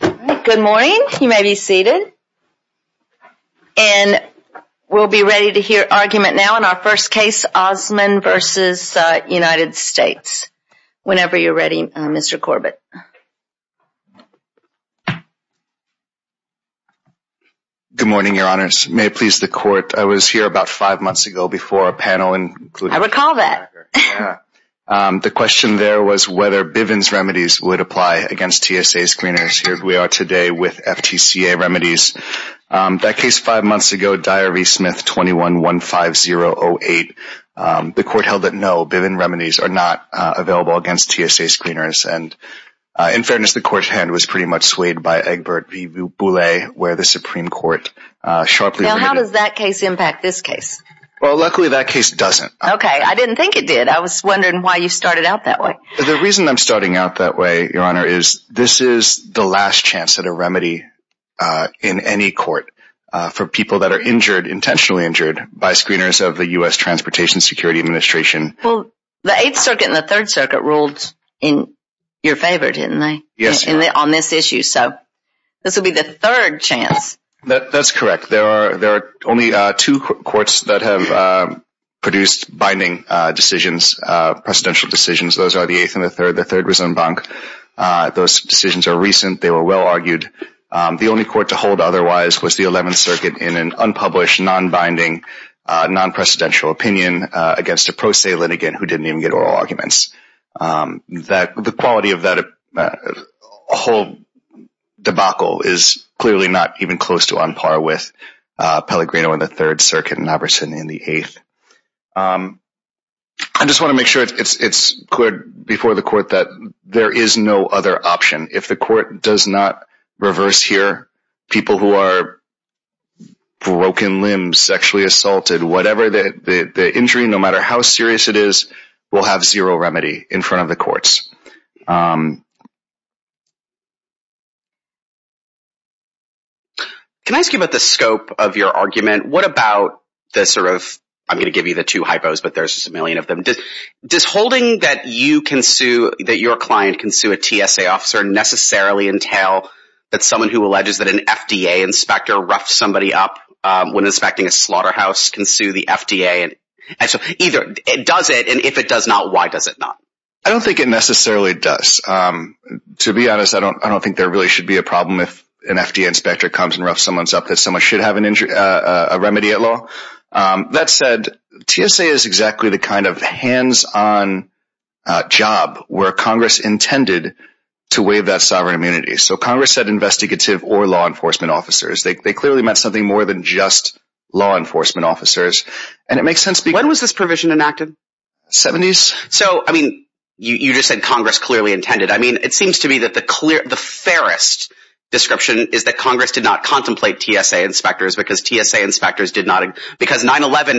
Good morning. You may be seated. And we'll be ready to hear argument now in our first case, Osmon v. United States. Whenever you're ready, Mr. Corbett. Good morning, Your Honors. May it please the Court, I was here about five months ago before a panel. I recall that. The question there was whether Bivens Remedies would apply against TSA screeners. Here we are today with FTCA Remedies. That case five months ago, Dyer v. Smith, 21-1508. The court held that no, Bivens Remedies are not available against TSA screeners. And in fairness, the court's hand was pretty much swayed by Egbert v. Boulay, where the Supreme Court sharply... Now, how does that case impact this case? Well, luckily that case doesn't. Okay, I didn't think it did. I was wondering why you started out that way. The reason I'm starting out that way, Your Honor, is this is the last chance at a remedy in any court for people that are injured, intentionally injured, by screeners of the U.S. Transportation Security Administration. Well, the Eighth Circuit and the Third Circuit ruled in your favor, didn't they? Yes. On this issue. So this will be the third chance. That's correct. There are only two courts that have produced binding decisions, presidential decisions. Those are the Eighth and the Third, the Third Resentment Bank. Those decisions are recent. They were well argued. The only court to hold otherwise was the Eleventh Circuit in an unpublished, non-binding, non-presidential opinion against a pro se litigant who didn't even get oral arguments. The quality of that whole debacle is clearly not even close to on par with Pellegrino and the Third before the court that there is no other option. If the court does not reverse here, people who are broken limbs, sexually assaulted, whatever the injury, no matter how serious it is, will have zero remedy in front of the courts. Can I ask you about the scope of your argument? What about the sort of, I'm gonna give you the two hypos, but there's a million of them, this holding that you can sue, that your client can sue a TSA officer necessarily entail that someone who alleges that an FDA inspector roughed somebody up when inspecting a slaughterhouse can sue the FDA? And so either it does it, and if it does not, why does it not? I don't think it necessarily does. To be honest, I don't I don't think there really should be a problem if an FDA inspector comes and roughs someone's up that someone should have an injury, a remedy at law. That said, TSA is exactly the kind of hands-on job where Congress intended to waive that sovereign immunity. So Congress said investigative or law enforcement officers. They clearly meant something more than just law enforcement officers, and it makes sense. When was this provision enacted? 70s? So, I mean, you just said Congress clearly intended. I mean, it seems to me that the clear, the fairest description is that Congress did not contemplate TSA inspectors because TSA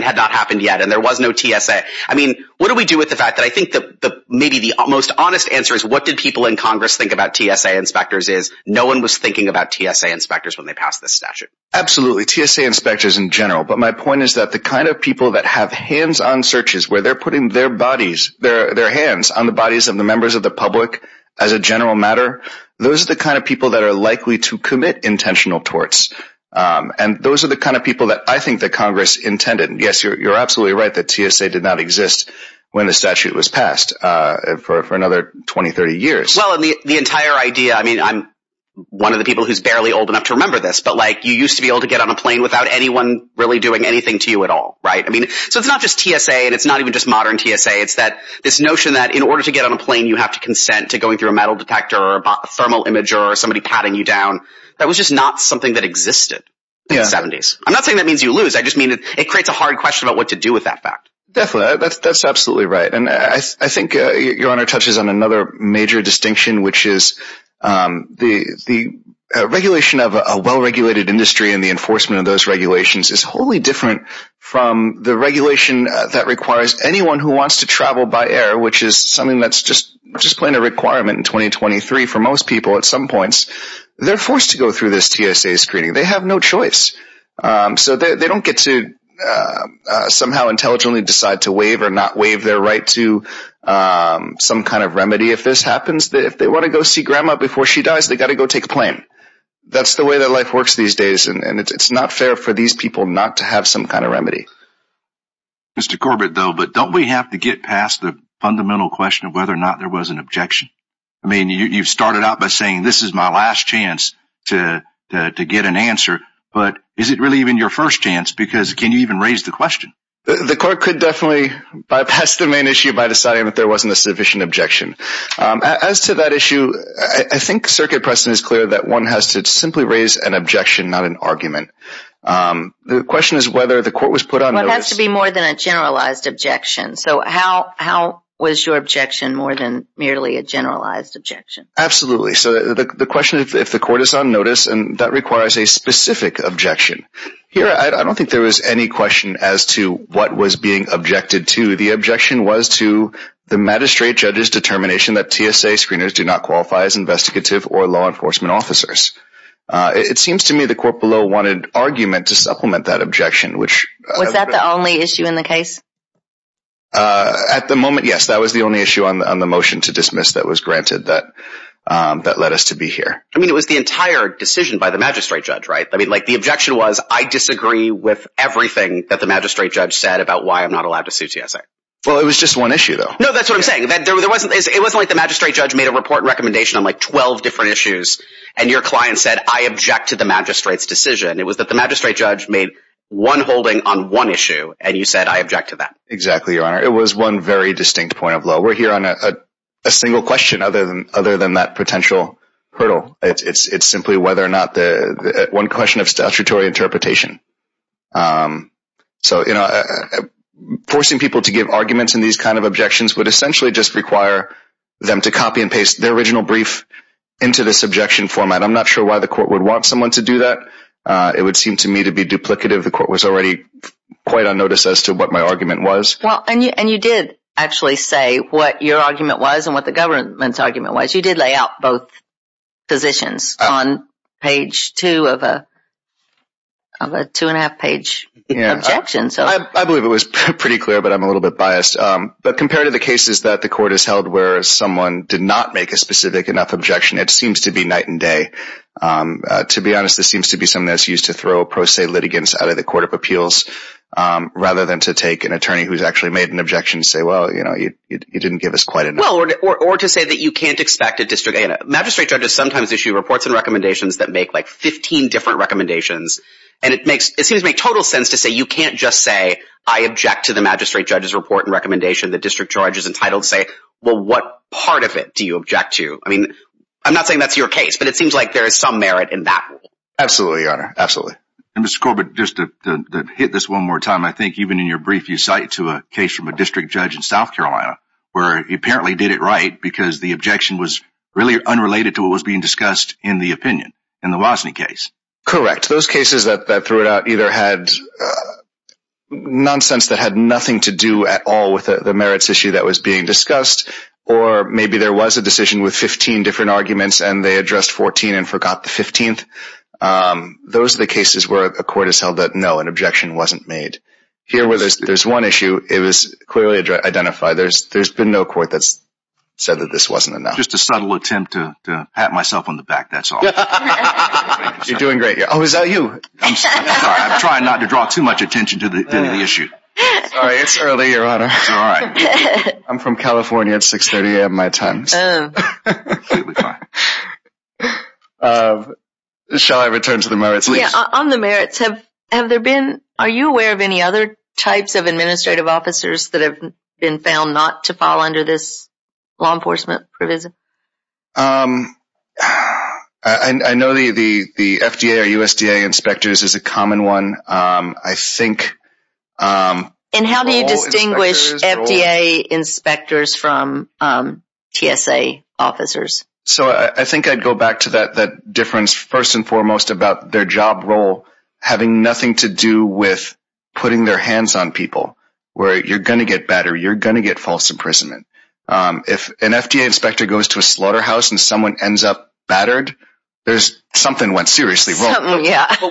hadn't happened yet, and there was no TSA. I mean, what do we do with the fact that I think that maybe the most honest answer is what did people in Congress think about TSA inspectors is no one was thinking about TSA inspectors when they passed this statute. Absolutely, TSA inspectors in general, but my point is that the kind of people that have hands-on searches where they're putting their bodies, their hands on the bodies of the members of the public as a general matter, those are the kind of people that are likely to commit intentional torts, and those are the kind of people that I think that Congress intended. Yes, you're absolutely right that TSA did not exist when the statute was passed for another 20, 30 years. Well, the entire idea, I mean, I'm one of the people who's barely old enough to remember this, but like you used to be able to get on a plane without anyone really doing anything to you at all, right? I mean, so it's not just TSA, and it's not even just modern TSA. It's that this notion that in order to get on a plane, you have to consent to going through a metal detector or a thermal imager or somebody patting you down. That was just not something that existed in the 70s. I'm not saying that means you lose. I just mean it creates a hard question about what to do with that fact. Definitely, that's absolutely right, and I think your honor touches on another major distinction, which is the regulation of a well-regulated industry and the enforcement of those regulations is wholly different from the regulation that requires anyone who wants to travel by air, which is something that's just just plain a requirement in 2023 for most people at some points. They're forced to go through this TSA screening. They have no choice, so they don't get to somehow intelligently decide to waive or not waive their right to some kind of remedy if this happens. If they want to go see grandma before she dies, they got to go take a plane. That's the way that life works these days, and it's not fair for these people not to have some kind of remedy. Mr. Corbett, though, but don't we have to get past the fundamental question of whether or not there was an objection? I mean, you've started out by saying this is my last chance to get an answer, but is it really even your first chance because can you even raise the question? The court could definitely bypass the main issue by deciding that there wasn't a sufficient objection. As to that issue, I think circuit precedent is clear that one has to simply raise an objection, not an argument. The question is whether the court was put on notice. It has to be more than a generalized objection, so how was your objection more than merely a if the court is on notice and that requires a specific objection. Here, I don't think there was any question as to what was being objected to. The objection was to the magistrate judge's determination that TSA screeners do not qualify as investigative or law enforcement officers. It seems to me the court below wanted argument to supplement that objection. Was that the only issue in the case? At the moment, yes, that was the only issue on the entire decision by the magistrate judge. The objection was I disagree with everything that the magistrate judge said about why I'm not allowed to sue TSA. Well, it was just one issue, though. No, that's what I'm saying. It wasn't like the magistrate judge made a report recommendation on like 12 different issues and your client said I object to the magistrate's decision. It was that the magistrate judge made one holding on one issue and you said I object to that. Exactly, Your Honor. It was one very distinct point of law. We're that potential hurdle. It's simply whether or not the one question of statutory interpretation. So, you know, forcing people to give arguments in these kind of objections would essentially just require them to copy and paste their original brief into this objection format. I'm not sure why the court would want someone to do that. It would seem to me to be duplicative. The court was already quite unnoticed as to what my argument was. Well, and you did actually say what your argument was and what the government's argument was. You did lay out both positions on page two of a two-and-a-half page objection. Yeah, I believe it was pretty clear, but I'm a little bit biased. But compared to the cases that the court has held where someone did not make a specific enough objection, it seems to be night and day. To be honest, this seems to be something that's used to throw pro se litigants out of the Court of Appeals rather than to take an attorney who's actually made an objection and say, well, you know, you magistrate judges sometimes issue reports and recommendations that make like 15 different recommendations. And it seems to make total sense to say you can't just say, I object to the magistrate judge's report and recommendation. The district judge is entitled to say, well, what part of it do you object to? I mean, I'm not saying that's your case, but it seems like there is some merit in that. Absolutely, Your Honor. Absolutely. Mr. Corbett, just to hit this one more time, I think even in your brief you cite to a case from a district judge in South Carolina where he apparently did it right because the really unrelated to what was being discussed in the opinion, in the Wozni case. Correct. Those cases that threw it out either had nonsense that had nothing to do at all with the merits issue that was being discussed, or maybe there was a decision with 15 different arguments and they addressed 14 and forgot the 15th. Those are the cases where a court has held that no, an objection wasn't made. Here where there's one issue, it was clearly identified. There's been no court that's said that this wasn't enough. Just a little attempt to pat myself on the back, that's all. You're doing great. Oh, is that you? I'm sorry, I'm trying not to draw too much attention to the issue. Sorry, it's early, Your Honor. It's all right. I'm from California. At 630, I have my times. Shall I return to the merits? Yeah, on the merits, have there been, are you aware of any other types of administrative officers that have been found not to fall under this law I know the FDA or USDA inspectors is a common one. I think... And how do you distinguish FDA inspectors from TSA officers? So I think I'd go back to that difference first and foremost about their job role having nothing to do with putting their hands on people, where you're gonna get battered, you're gonna get false imprisonment. If an FDA inspector goes to a slaughterhouse and someone ends up battered, there's something went seriously wrong.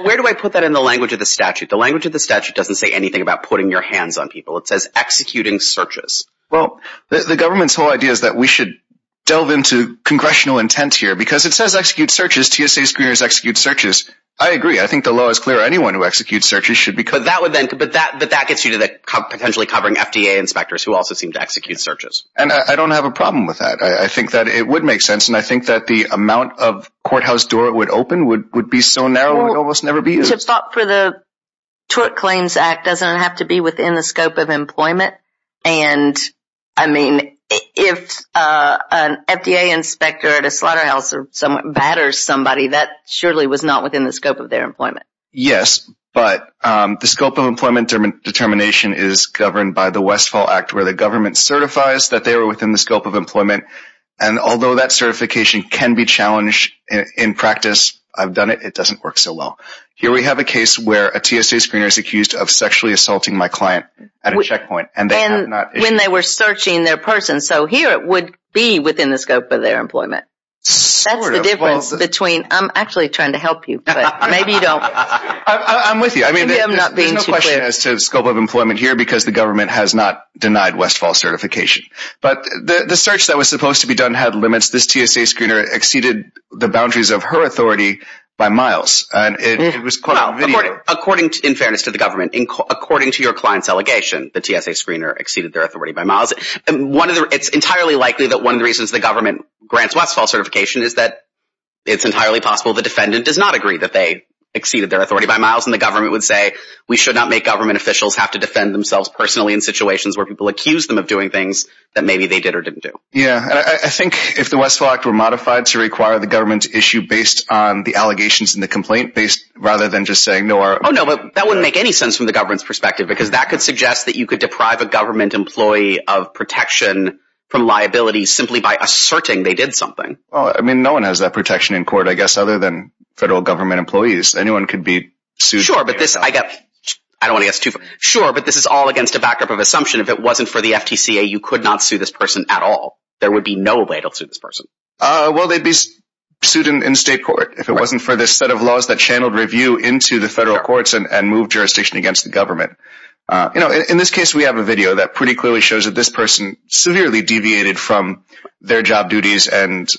Where do I put that in the language of the statute? The language of the statute doesn't say anything about putting your hands on people. It says executing searches. Well, the government's whole idea is that we should delve into congressional intent here because it says execute searches. TSA screeners execute searches. I agree. I think the law is clear. Anyone who executes searches should be covered. But that would then, but that, but that gets you to the potentially covering FDA inspectors who also seem to execute searches. And I don't have a problem with that. I think that it would make sense and I think that the amount of courthouse door it would open would be so narrow it almost never be used. Well, to stop for the Tort Claims Act doesn't have to be within the scope of employment. And I mean, if an FDA inspector at a slaughterhouse batters somebody, that surely was not within the scope of their employment. And although that certification can be challenged in practice, I've done it, it doesn't work so well. Here we have a case where a TSA screener is accused of sexually assaulting my client at a checkpoint. And when they were searching their person. So here it would be within the scope of their employment. That's the difference between, I'm actually trying to help you, but maybe you don't. I'm with you. I mean, there's no question as to the scope of employment here because the government has not denied Westfall certification. But the search that was supposed to be done had limits. This TSA screener exceeded the boundaries of her authority by miles. And it was quite a video. According, in fairness to the government, according to your client's allegation, the TSA screener exceeded their authority by miles. And one of the, it's entirely likely that one of the reasons the government grants Westfall certification is that it's entirely possible the defendant does not agree that they exceeded their authority by miles. And the government would say, we should not make government officials have to defend themselves personally in situations where people accuse them of doing things that maybe they did or didn't do. Yeah, I think if the Westfall Act were modified to require the government's issue based on the allegations and the complaint based rather than just saying no. Oh no, but that wouldn't make any sense from the government's perspective because that could suggest that you could deprive a government employee of protection from liability simply by asserting they did something. Oh, I mean, no one has that protection in court, I guess, other than I don't want to get too far. Sure, but this is all against a backdrop of assumption. If it wasn't for the FTCA, you could not sue this person at all. There would be no way to sue this person. Well, they'd be sued in state court if it wasn't for this set of laws that channeled review into the federal courts and move jurisdiction against the government. You know, in this case, we have a video that pretty clearly shows that this person severely deviated from their job duties. And,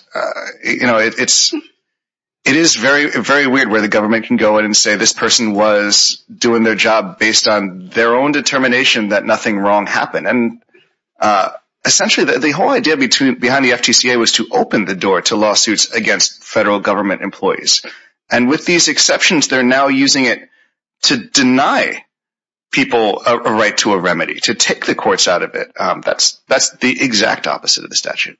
you know, it's, it is very, very weird where the government is doing their job based on their own determination that nothing wrong happened. And essentially, the whole idea behind the FTCA was to open the door to lawsuits against federal government employees. And with these exceptions, they're now using it to deny people a right to a remedy, to take the courts out of it. That's the exact opposite of the statute.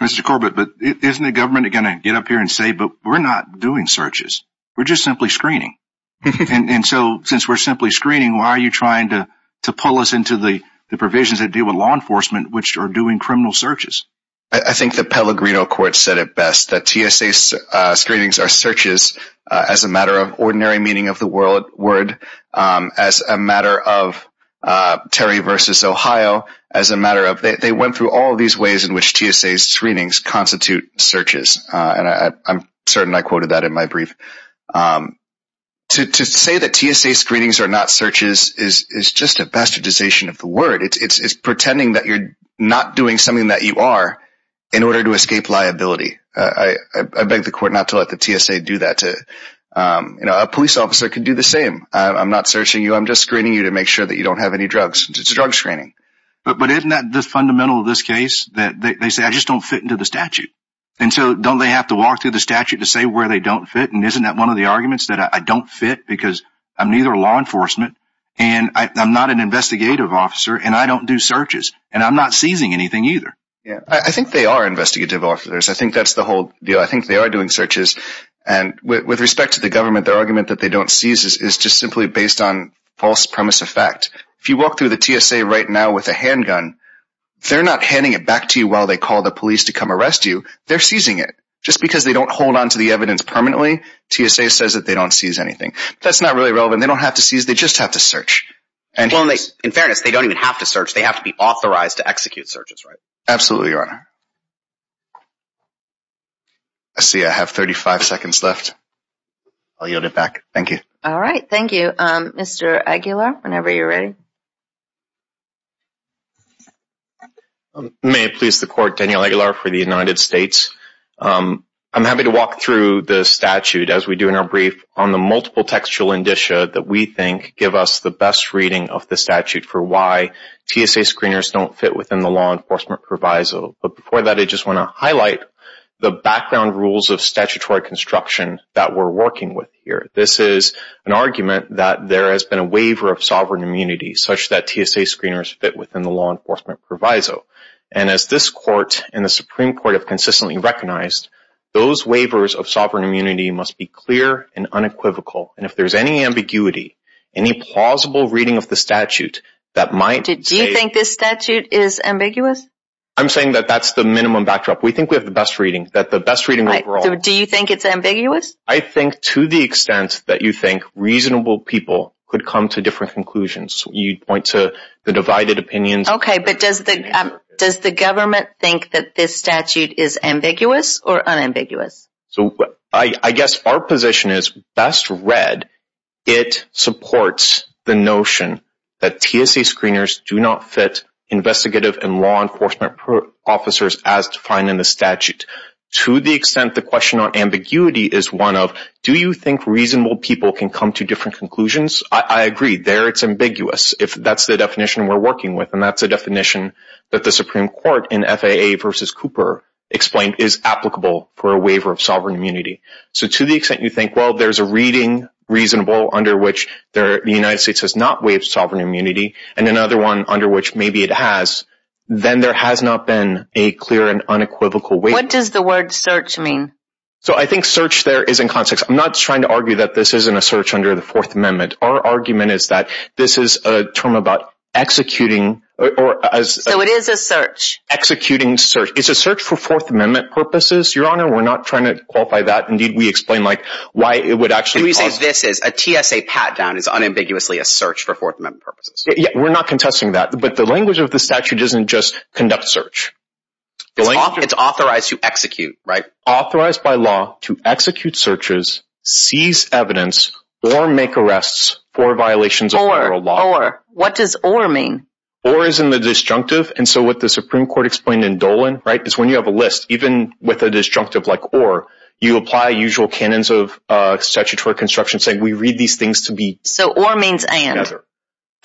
Mr. Corbett, but isn't the government going to get up here and say, but we're not doing searches. We're just simply screening. And so since we're simply screening, why are you trying to pull us into the provisions that deal with law enforcement, which are doing criminal searches? I think the Pellegrino court said it best that TSA screenings are searches as a matter of ordinary meaning of the word, as a matter of Terry versus Ohio, as a matter of they went through all of these ways in which TSA screenings constitute searches. And I'm certain I quoted that in my brief. To say that TSA screenings are not searches is just a bastardization of the word. It's pretending that you're not doing something that you are in order to escape liability. I beg the court not to let the TSA do that to, you know, a police officer can do the same. I'm not searching you. I'm just screening you to make sure that you don't have any drugs. It's drug screening. But isn't that the fundamental of this case that they say I just don't fit into the statute? And so don't they have to walk through the statute to say where they don't fit? And isn't that one of the arguments that I don't fit because I'm neither law enforcement and I'm not an investigative officer and I don't do searches and I'm not seizing anything either. Yeah, I think they are investigative officers. I think that's the whole deal. I think they are doing searches. And with respect to the government, their argument that they don't seize is just simply based on false premise effect. If you walk through the TSA right now with a handgun, they're not handing it back to you while they call the police to come arrest you. They're seizing it just because they don't hold on to the evidence permanently. TSA says that they don't seize anything. That's not really relevant. They don't have to seize. They just have to search. And in fairness, they don't even have to search. They have to be authorized to execute searches, right? Absolutely, Your Honor. I see I have 35 seconds left. I'll yield it back. Thank you. All right. Thank you, Mr. Aguilar. Whenever you're ready. May it please the Court, Daniel Aguilar for the United States. I'm happy to walk through the statute, as we do in our brief, on the multiple textual indicia that we think give us the best reading of the statute for why TSA screeners don't fit within the law enforcement proviso. But before that, I just want to highlight the background rules of statutory construction that we're working with here. This is an argument that there has been a waiver of sovereign immunity such that TSA screeners fit within the law enforcement proviso. And as this Court and the Supreme Court have consistently recognized, those waivers of sovereign immunity must be clear and unequivocal. And if there's any ambiguity, any plausible reading of the statute that might... Do you think this statute is ambiguous? I'm saying that that's the minimum backdrop. We think we have the best reading, that the best reading overall... Do you think it's ambiguous? I think to the extent that you think reasonable people could come to different conclusions, you'd point to the divided opinions... Okay, but does the government think that this statute is ambiguous or unambiguous? So I guess our position is, best read, it supports the notion that TSA screeners do not fit investigative and law enforcement officers as defined in the statute. To the extent the question on ambiguity is one of, do you think reasonable people can come to different conclusions? I agree, there it's ambiguous, if that's the definition we're working with. And that's a definition that the Supreme Court in FAA versus Cooper explained is applicable for a waiver of sovereign immunity. So to the extent you think, well, there's a reading reasonable under which the United States has not waived sovereign immunity, and another one under which maybe it has, then there has not been a clear and unequivocal waiver. What does the word search mean? So I think search there is in context. I'm not trying to argue that this isn't a search under the Fourth Amendment. Our argument is that this is a term about executing, or as... So it is a search. Executing search. It's a search for Fourth Amendment purposes, Your Honor. We're not trying to qualify that. Indeed, we explain like, why it would actually... We say this is, a TSA pat down is unambiguously a search for Fourth Amendment purposes. Yeah, we're not contesting that. But the language of the statute isn't just conduct search. It's authorized to execute, right? Authorized by law to execute searches, seize evidence, or make arrests for violations of moral law. What does or mean? Or is in the disjunctive. And so what the Supreme Court explained in Dolan, right, is when you have a list, even with a disjunctive like or, you apply usual canons of statutory construction saying we read these things to be... So or means and,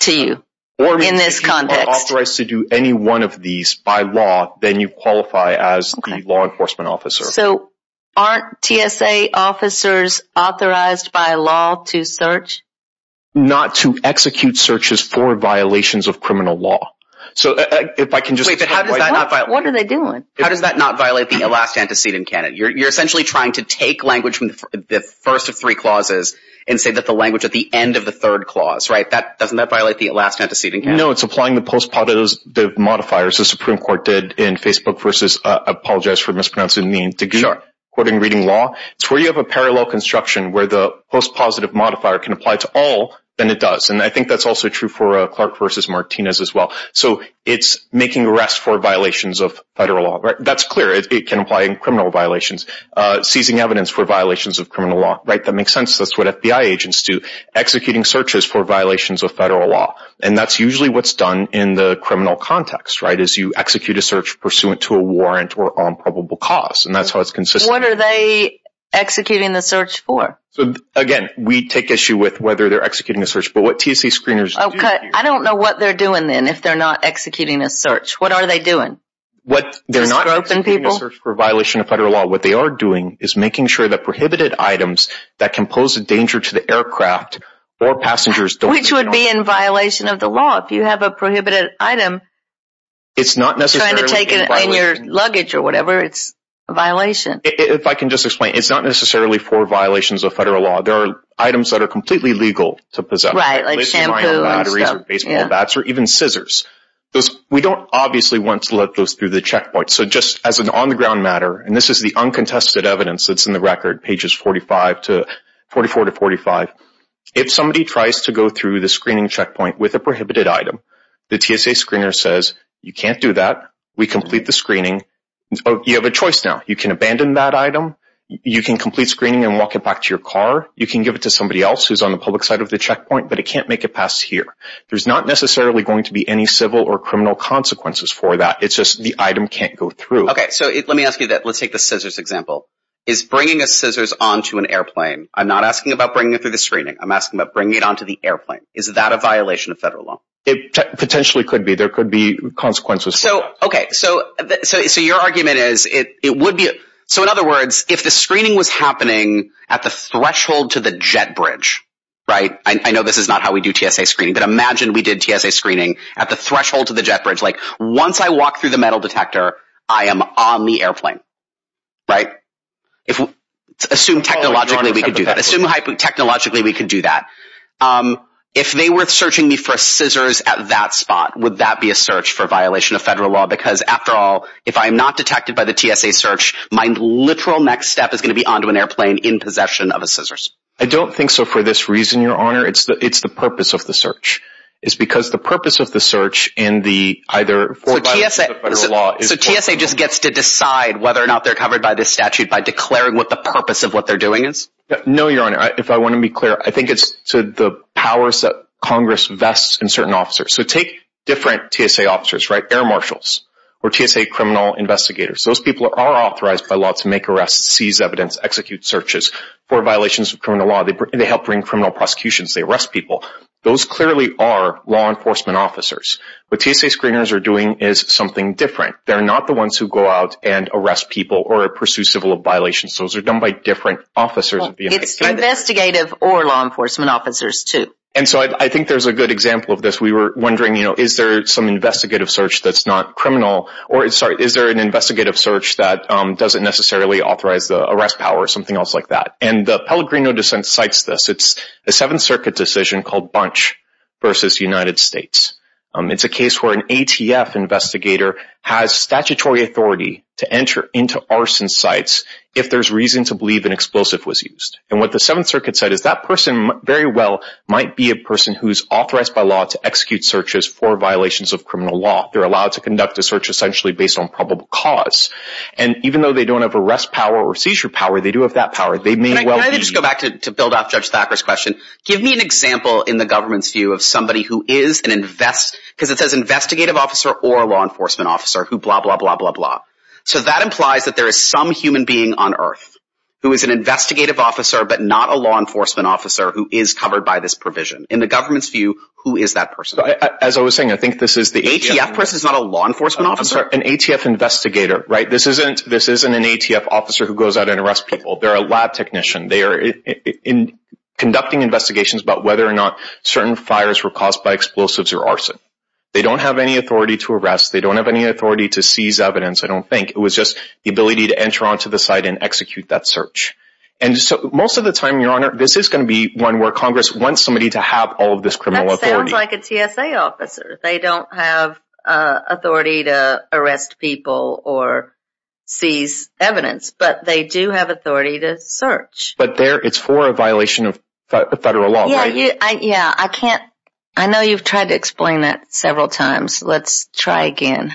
to you, in this context. Authorized to do any one of these by law, then you qualify as the law enforcement officer. So aren't TSA officers authorized by law to search? Not to execute searches for violations of criminal law. So if I can just... What are they doing? How does that not violate the last antecedent canon? You're essentially trying to take language from the first of three clauses and say that the language at the end of the third clause, right? That doesn't that violate the last antecedent canon? No, it's applying the postpositive modifiers the Supreme Court did in Facebook versus, I apologize for mispronouncing the name, to quote and reading law. It's where you have a parallel construction where the postpositive modifier can apply to all than it does. And I think that's also true for a Clark versus Martinez as well. So it's making arrests for violations of federal law, right? That's clear. It can apply in criminal violations, seizing evidence for violations of criminal law, right? That makes sense. That's what FBI agents do, executing searches for violations of federal law. And that's usually what's done in the criminal context, right? Is you execute a search pursuant to a warrant or on probable costs. And that's how it's consistent. What are they executing the search for? So again, we take issue with whether they're executing a search, but what TC screeners. Okay. I don't know what they're doing then if they're not executing a search, what are they doing? What they're not open people search for violation of federal law. What they are doing is making sure that prohibited items that can pose a danger to the aircraft or passengers, which would be in violation of the law. If you have a prohibited item, it's not necessary to take it in your luggage or whatever. It's a violation. If I can just explain, it's not necessarily for violations of federal law. There are items that are completely legal to possess. Right. Like shampoo, baseball bats, or even scissors. We don't obviously want to let those through the checkpoints. So just as an on the ground matter, and this is the uncontested evidence that's in the record, pages 45 to 44 to 45. If somebody tries to go through the screening checkpoint with a prohibited item, the TSA screener says, you can't do that. We complete the screening. You have a choice. Now you can abandon that item. You can complete screening and walk it back to your car. You can give it to somebody else who's on the public side of the checkpoint, but it can't make it past here. There's not necessarily going to be any civil or criminal consequences for that. It's just the item can't go through. Okay. So let me ask you that. Let's take the scissors example is bringing a scissors onto an airplane. I'm not asking about bringing it through the screening. I'm asking about bringing it onto the airplane. Is that a violation of federal law? It potentially could be. There could be consequences. So, okay. So, so, so your argument is it, it would be. So in other words, if the screening was happening at the threshold to the jet bridge, right. I know this is not how we do TSA screening, but imagine we did TSA screening at the threshold to the jet bridge. Like once I walked through the metal detector, I am on the airplane. Right. If we assume technologically, we could do that. Assume hypothetically, technologically, we could do that. Um, if they were searching me for scissors at that spot, would that be a search for violation of federal law? Because after all, if I'm not detected by the TSA search, my literal next step is going to be onto an airplane in possession of a scissors. I don't think so for this reason, your honor, it's the, it's the purpose of the search is because the purpose of the search and the either for TSA. So TSA just gets to decide whether or not they're covered by this statute by declaring what the purpose of what they're doing is. No, your honor. I, if I want to be clear, I think it's to the powers that Congress vests in certain officers. So take different TSA officers, right? Air marshals or TSA criminal investigators. Those people are authorized by law to make arrests, seize evidence, execute searches for violations of criminal law. They, they help bring criminal prosecutions. They arrest people. Those clearly are law enforcement officers, but TSA screeners are doing is something different. They're not the ones who go out and arrest people or pursue civil violations. Those are done by different officers. It's investigative or law enforcement officers too. And so I think there's a good example of this. We were wondering, you know, is there some investigative search that's not criminal? Or sorry, is there an investigative search that doesn't necessarily authorize the arrest power or something else like that? And the Pellegrino dissent cites this. It's a seventh circuit decision called Bunch versus United States. It's a case where an ATF investigator has statutory authority to enter into arson sites if there's reason to believe an explosive was used. And what the seventh circuit said is that person very well might be a person who's authorized by law to execute searches for violations of criminal law. They're allowed to conduct a search essentially based on probable cause. And even though they don't have arrest power or seizure power, they do have that power. They may well be- Can I just go back to, to build off Judge Thacker's question. Give me an example in the government's view of somebody who is an investigative officer or a law enforcement officer who blah, blah, blah, blah, blah. So that implies that there is some human being on earth who is an investigative officer, but not a law enforcement officer who is covered by this provision. In the government's view, who is that person? As I was saying, I think this is the- ATF person is not a law enforcement officer? An ATF investigator, right? This isn't, this isn't an ATF officer who goes out and arrests people. They're a lab technician. They are conducting investigations about whether or not certain fires were explosives or arson. They don't have any authority to arrest. They don't have any authority to seize evidence. I don't think. It was just the ability to enter onto the site and execute that search. And so most of the time, Your Honor, this is going to be one where Congress wants somebody to have all of this criminal authority. That sounds like a TSA officer. They don't have a authority to arrest people or seize evidence, but they do have authority to search. But there, it's for a violation of federal law, right? Yeah. I can't, I know you've tried to explain that several times. Let's try again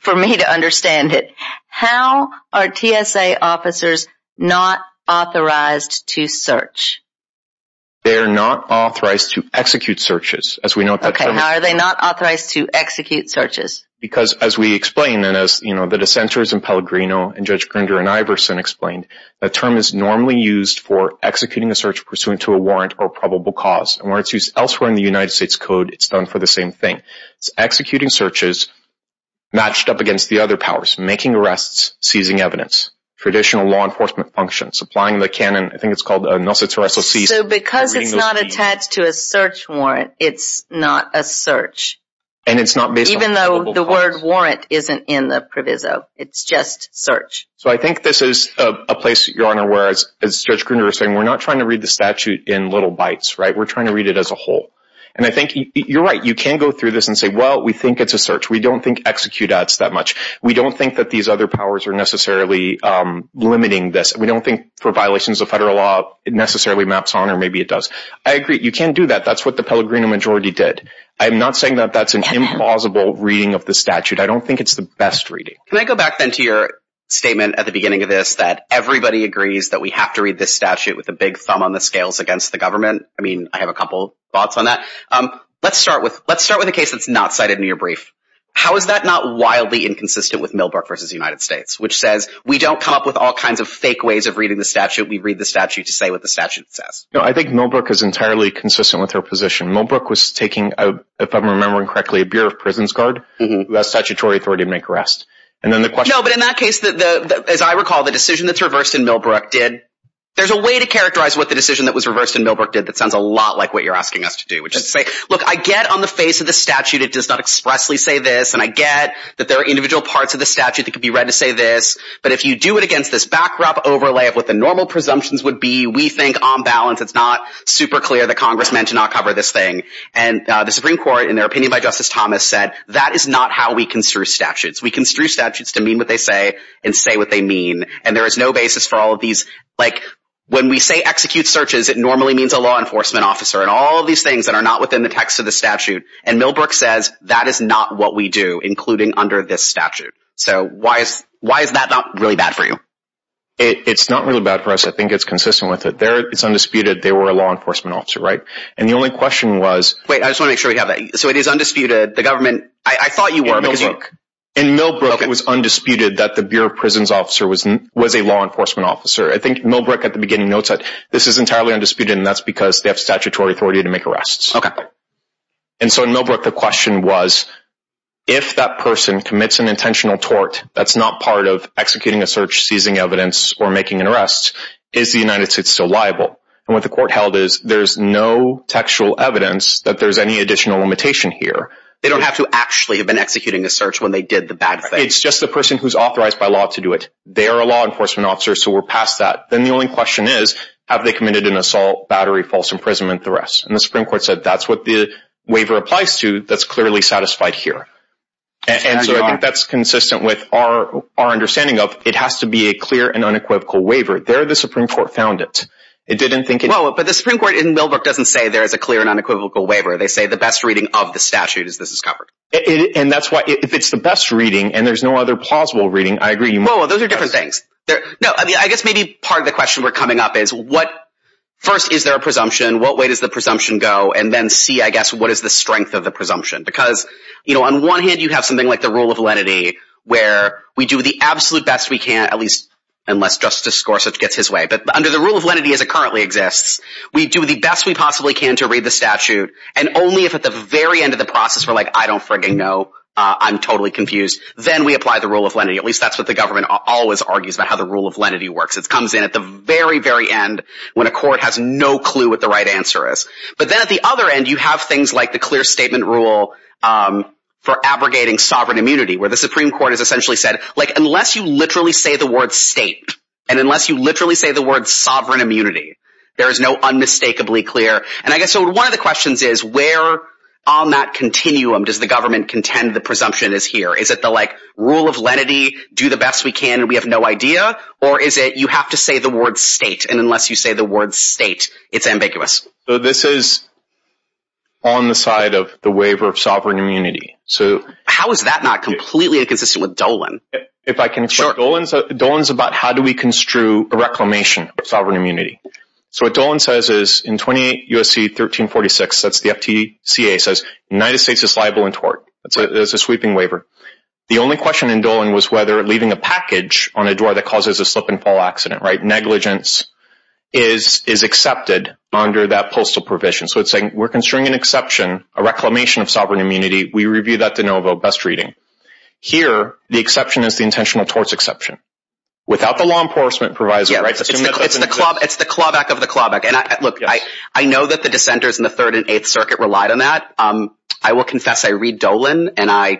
for me to understand it. How are TSA officers not authorized to search? They're not authorized to execute searches. As we know- Okay, how are they not authorized to execute searches? Because as we explained, and as, you know, the dissenters in Pellegrino and Judge Grinder and Iverson explained, that term is normally used for executing a search pursuant to a warrant or probable cause. And where it's used elsewhere in the United States code, it's done for the same thing. It's executing searches matched up against the other powers, making arrests, seizing evidence, traditional law enforcement functions, applying the canon, I think it's called a Nelson-Torreso Cease. So because it's not attached to a search warrant, it's not a search. And it's not based on probable cause. Even though the word warrant isn't in the proviso, it's just search. So I think this is a place, Your Honor, where as Judge Grinder was saying, we're not trying to read the statute in little bites, right? We're trying to read it as a whole. And I think you're right. You can go through this and say, well, we think it's a search. We don't think execute ads that much. We don't think that these other powers are necessarily limiting this. We don't think for violations of federal law, it necessarily maps on or maybe it does. I agree. You can do that. That's what the Pellegrino majority did. I'm not saying that that's an implausible reading of the statute. I don't think it's the best reading. Can I go back then to your statement at the beginning of this, that everybody agrees that we have to read this statute with a big thumb on the scales against the government? I mean, I have a couple of thoughts on that. Let's start with, let's start with a case that's not cited in your brief. How is that not wildly inconsistent with Millbrook versus United States, which says we don't come up with all kinds of fake ways of reading the statute. We read the statute to say what the statute says. No, I think Millbrook is entirely consistent with her position. Millbrook was taking, if I'm remembering correctly, a Bureau of Prisons guard, a statutory authority to make arrests. And then the question- There's a way to characterize what the decision that's reversed in Millbrook did. That sounds a lot like what you're asking us to do, which is to say, look, I get on the face of the statute, it does not expressly say this. And I get that there are individual parts of the statute that could be read to say this, but if you do it against this backrop overlay of what the normal presumptions would be, we think on balance, it's not super clear that Congress meant to not cover this thing. And the Supreme Court, in their opinion by Justice Thomas said, that is not how we construe statutes. We construe statutes to mean what they say and say what they mean. And there is no basis for all of these, like when we say execute searches, it normally means a law enforcement officer and all of these things that are not within the text of the statute. And Millbrook says that is not what we do, including under this statute. So why is, why is that not really bad for you? It's not really bad for us. I think it's consistent with it. There it's undisputed. They were a law enforcement officer, right? And the only question was- Wait, I just want to make sure we have that. So it is undisputed. The government, I thought you were- In Millbrook. In Millbrook, it was undisputed that the Bureau of Prisons officer was a law enforcement officer. I think Millbrook at the beginning notes that this is entirely undisputed and that's because they have statutory authority to make arrests. And so in Millbrook, the question was if that person commits an intentional tort, that's not part of executing a search, seizing evidence, or making an arrest, is the United States still liable? And what the court held is there's no textual evidence that there's any additional limitation here. They don't have to actually have been executing a search when they did the bad thing. It's just the person who's authorized by law to do it. They are a law enforcement officer. So we're past that. Then the only question is, have they committed an assault, battery, false imprisonment, the rest? And the Supreme Court said, that's what the waiver applies to. That's clearly satisfied here. And so I think that's consistent with our understanding of it has to be a clear and unequivocal waiver. There, the Supreme Court found it. It didn't think it- Well, but the Supreme Court in Millbrook doesn't say there is a clear and unequivocal waiver. They say the best reading of the statute is this is covered. And that's why if it's the best reading and there's no other plausible reading, I agree. Well, those are different things there. No, I mean, I guess maybe part of the question we're coming up is what first, is there a presumption? What way does the presumption go and then see, I guess, what is the strength of the presumption? Because, you know, on one hand you have something like the rule of lenity where we do the absolute best we can, at least unless Justice Gorsuch gets his way, but under the rule of lenity as it currently exists, we do the best we possibly can to read the statute. And only if at the very end of the process, we're like, I don't frigging know. I'm totally confused. Then we apply the rule of lenity. At least that's what the government always argues about how the rule of lenity works. It comes in at the very, very end when a court has no clue what the right answer is. But then at the other end you have things like the clear statement rule for abrogating sovereign immunity where the Supreme Court has essentially said, like unless you literally say the word state and unless you literally say the word sovereign immunity, there is no unmistakably clear. And I guess so one of the questions is where on that continuum does the government contend the presumption is here? Is it the like rule of lenity, do the best we can and we have no idea? Or is it, you have to say the word state and unless you say the word state, it's ambiguous. So this is on the side of the waiver of sovereign immunity. So how is that not completely inconsistent with Dolan? If I can explain, Dolan's about how do we construe a reclamation of sovereign immunity? USC 1346, that's the FTCA says, United States is liable in tort. It's a sweeping waiver. The only question in Dolan was whether leaving a package on a door that causes a slip and fall accident, right? Negligence is accepted under that postal provision. So it's saying we're considering an exception, a reclamation of sovereign immunity. We review that de novo, best reading. Here, the exception is the intentional torts exception. Without the law enforcement provisor. It's the clawback of the clawback. And look, I know that the dissenters in the third and eighth circuit relied on that. I will confess. I read Dolan and I,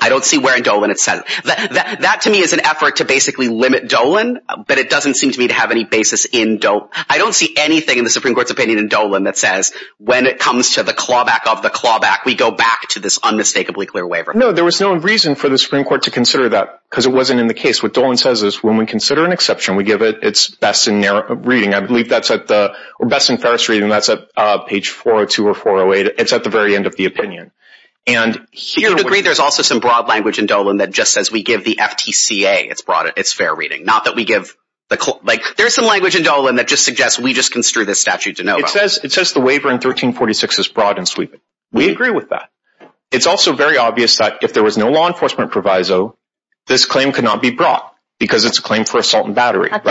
I don't see where in Dolan it says. That to me is an effort to basically limit Dolan, but it doesn't seem to me to have any basis in Dolan. I don't see anything in the Supreme Court's opinion in Dolan that says when it comes to the clawback of the clawback, we go back to this unmistakably clear waiver. No, there was no reason for the Supreme Court to consider that because it wasn't in the case. What Dolan says is when we consider an exception, we give it it's best in reading. I believe that's at the best in Ferris reading. That's a page 402 or 408. It's at the very end of the opinion. And here to agree, there's also some broad language in Dolan that just says we give the FTCA. It's broad. It's fair reading. Not that we give the, like there's some language in Dolan that just suggests we just construe this statute. It says, it says the waiver in 1346 is broad and sweeping. We agree with that. It's also very obvious that if there was no law enforcement proviso, this claim could not be brought because it's a claim for assault and battery. And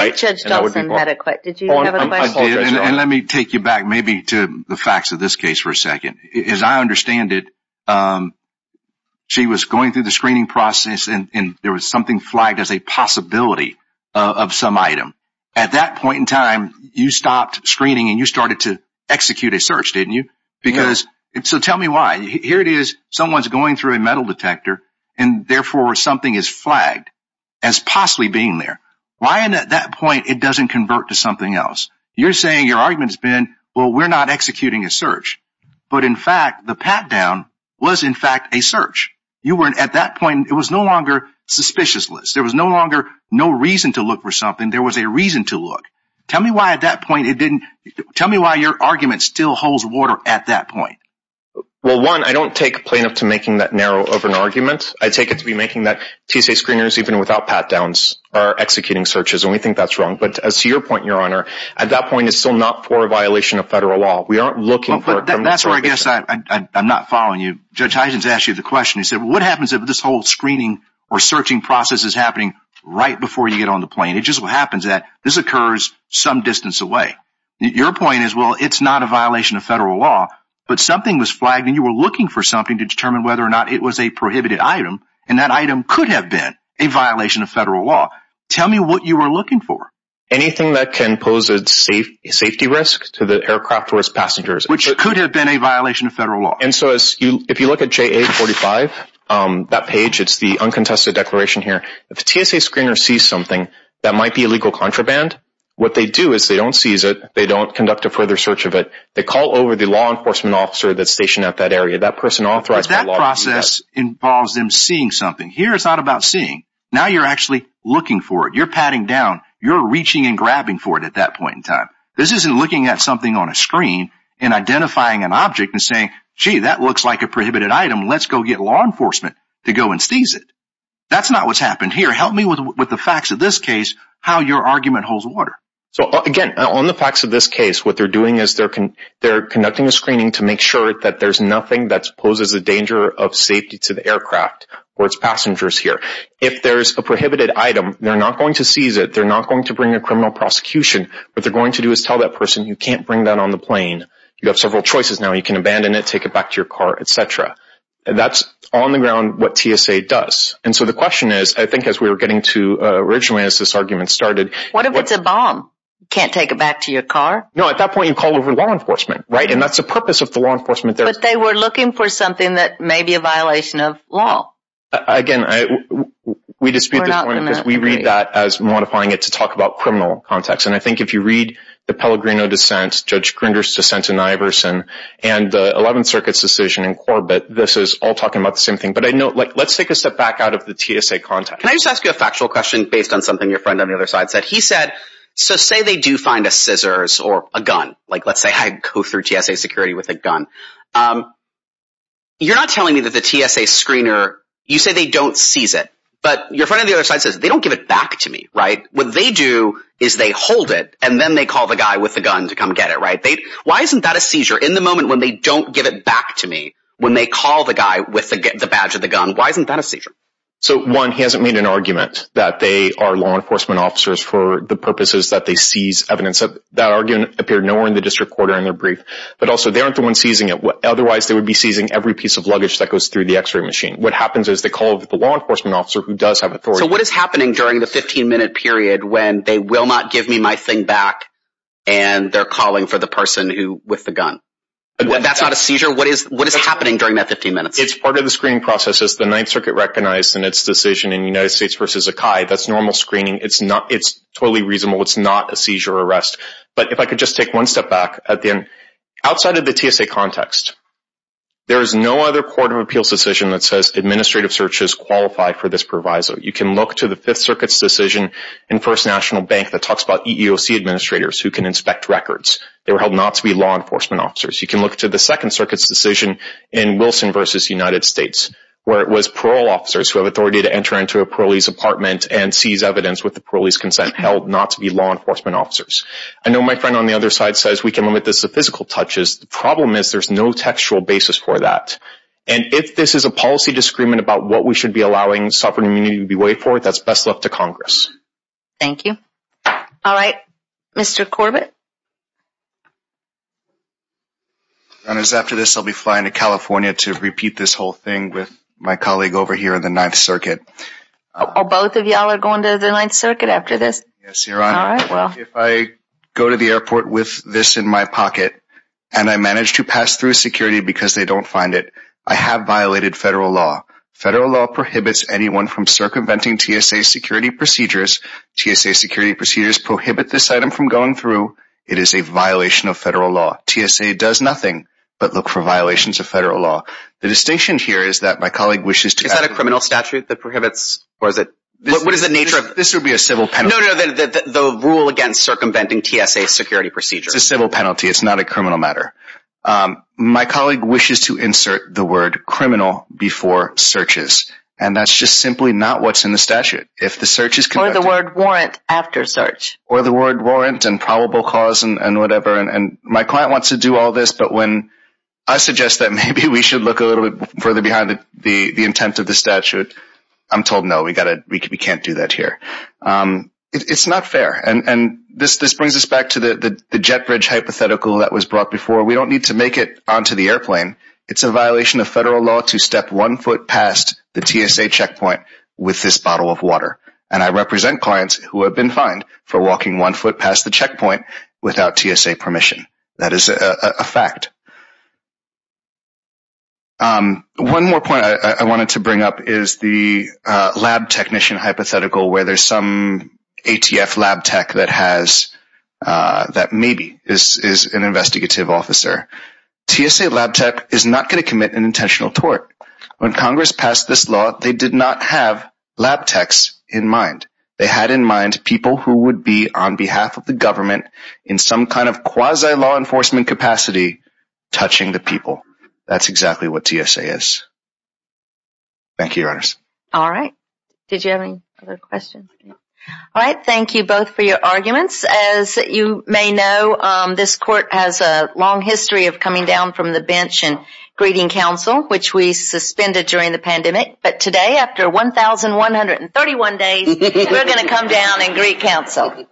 let me take you back maybe to the facts of this case for a second is I understand it. She was going through the screening process and there was something flagged as a possibility of some item at that point in time you stopped screening and you started to execute a search, didn't you? Because it's, so tell me why here it is. Someone's going through a metal detector and therefore something is flagged as possibly being there. Why? And at that point it doesn't convert to something else. You're saying your argument has been, well, we're not executing a search, but in fact the pat down was in fact a search. You weren't at that point. It was no longer suspicious list. There was no longer no reason to look for something. There was a reason to look. Tell me why at that point it didn't. Tell me why your argument still holds water at that point. Well, one, I don't take a plaintiff to making that narrow of an argument. I take it to be making that TSA screeners, even without pat downs are executing searches. And we think that's wrong. But as to your point, your honor, at that point it's still not for a violation of federal law. We aren't looking for it. That's where I guess I'm not following you. Judge Huygens asked you the question. He said, what happens if this whole screening or searching process is happening right before you get on the plane? It just happens that this occurs some distance away. Your point is, well, it's not a violation of federal law, but something was flagged and you were looking for something to determine whether or not it was a prohibited item. And that item could have been a violation of federal law. Tell me what you were looking for. Anything that can pose a safe safety risk to the aircraft or its passengers, which could have been a violation of federal law. And so as you, if you look at JA 45, um, that page, it's the uncontested declaration here. If the TSA screener sees something that might be illegal contraband, what they do is they don't seize it. They don't conduct a further search of it. They call over the law enforcement officer that's stationed at that area. That person authorize that process involves them seeing something here. It's not about seeing now you're actually looking for it. You're patting down, you're reaching and grabbing for it. At that point in time, this isn't looking at something on a screen and identifying an object and saying, gee, that looks like a prohibited item. Let's go get law enforcement to go and seize it. That's not what's happened here. Help me with the facts of this case, how your argument holds water. So again, on the facts of this case, what they're doing is they're conducting a screening to make sure that there's nothing that's poses a danger of safety to the aircraft or its passengers here. If there's a prohibited item, they're not going to seize it. They're not going to bring a criminal prosecution, but they're going to do is tell that person, you can't bring that on the plane. You have several choices. Now you can abandon it, take it back to your car, et cetera. That's on the ground, what TSA does. And so the question is, I think as we were getting to originally as this argument started, what if it's a bomb? Can't take it back to your car? No, at that point you call over law enforcement, right? And that's the purpose of the law enforcement. But they were looking for something that may be a violation of law. Again, we dispute this point because we read that as modifying it to talk about criminal context. And I think if you read the Pellegrino dissent, Judge Grinder's dissent in Iverson and the 11th circuit's decision in Corbett, this is all talking about the same thing. But I know like let's take a step back out of the TSA context. Can I just ask you a factual question based on something your friend on the other side said? He said, so say they do find a scissors or a gun. Like let's say I go through TSA security with a gun. You're not telling me that the TSA screener, you say they don't seize it, but your friend on the other side says they don't give it back to me, right? What they do is they hold it and then they call the guy with the gun to come get it. Right. They, why isn't that a seizure? In the moment when they don't give it back to me, when they call the guy with the badge of the gun, why isn't that a seizure? So one, he hasn't made an argument that they are law enforcement officers for the purposes that they seize evidence of that argument appeared nowhere in the district court or in their brief, but also they aren't the ones seizing it. Otherwise they would be seizing every piece of luggage that goes through the x-ray machine. What happens is they call the law enforcement officer who does have authority. So what is happening during the 15 minute period when they will not give me my thing back and they're calling for the person who with the gun, that's not a seizure. What is, what is happening during that 15 minutes? It's part of the screening process as the ninth circuit recognized in its decision in United States versus a CAI. That's normal screening. It's not, it's totally reasonable. It's not a seizure arrest. But if I could just take one step back at the end, outside of the TSA context, there is no other court of appeals decision that says administrative searches qualified for this proviso. You can look to the fifth circuit's decision in first national bank that talks about EEOC administrators who can inspect records. They were held not to be law enforcement officers. You can look to the second circuit's decision in Wilson versus United States where it was parole officers who have authority to enter into a parolee's apartment and seize evidence with the parolee's consent held not to be law enforcement officers. I know my friend on the other side says, we can limit this to physical touches. The problem is there's no textual basis for that. And if this is a policy discrement about what we should be allowing sovereign immunity to be waived for, that's best left to Congress. Thank you. All right, Mr. Corbett. And it was after this, I'll be flying to California to repeat this whole thing with my colleague over here in the ninth circuit. Oh, both of y'all are going to the ninth circuit after this. Yes, you're on. If I go to the airport with this in my pocket and I managed to pass through security because they don't find it, I have violated federal law. Federal law prohibits anyone from circumventing TSA security procedures. TSA security procedures prohibit this item from going through. It is a violation of federal law. TSA does nothing but look for violations of federal law. The distinction here is that my colleague wishes to add a criminal statute that prohibits, or is it, what is the nature of this? It would be a civil penalty. The rule against circumventing TSA security procedures. It's a civil penalty. It's not a criminal matter. My colleague wishes to insert the word criminal before searches. And that's just simply not what's in the statute. If the search is the word warrant after search or the word warrant and probable cause and whatever, and my client wants to do all this, but when I suggest that maybe we should look a little bit further behind the intent of the statute, I'm told, no, we got to, we can't do that here. It's not fair. And this, this brings us back to the jet bridge hypothetical that was brought before. We don't need to make it onto the airplane. It's a violation of federal law to step one foot past the TSA checkpoint with this bottle of water. And I represent clients who have been fined for walking one foot past the checkpoint without TSA permission. That is a fact. One more point I wanted to bring up is the lab technician hypothetical where there's some ATF lab tech that has that maybe is, is an investigative officer. TSA lab tech is not going to commit an intentional tort. When Congress passed this law, they did not have lab techs in mind. They had in mind people who would be on behalf of the government in some kind of quasi law enforcement capacity, touching the people. That's exactly what TSA is. Thank you, Your Honors. All right. Did you have any other questions? All right. Thank you both for your arguments. As you may know, this court has a long history of coming down from the bench and greeting counsel, which we suspended during the pandemic. But today, after 1,131 days, we're going to come down and greet counsel.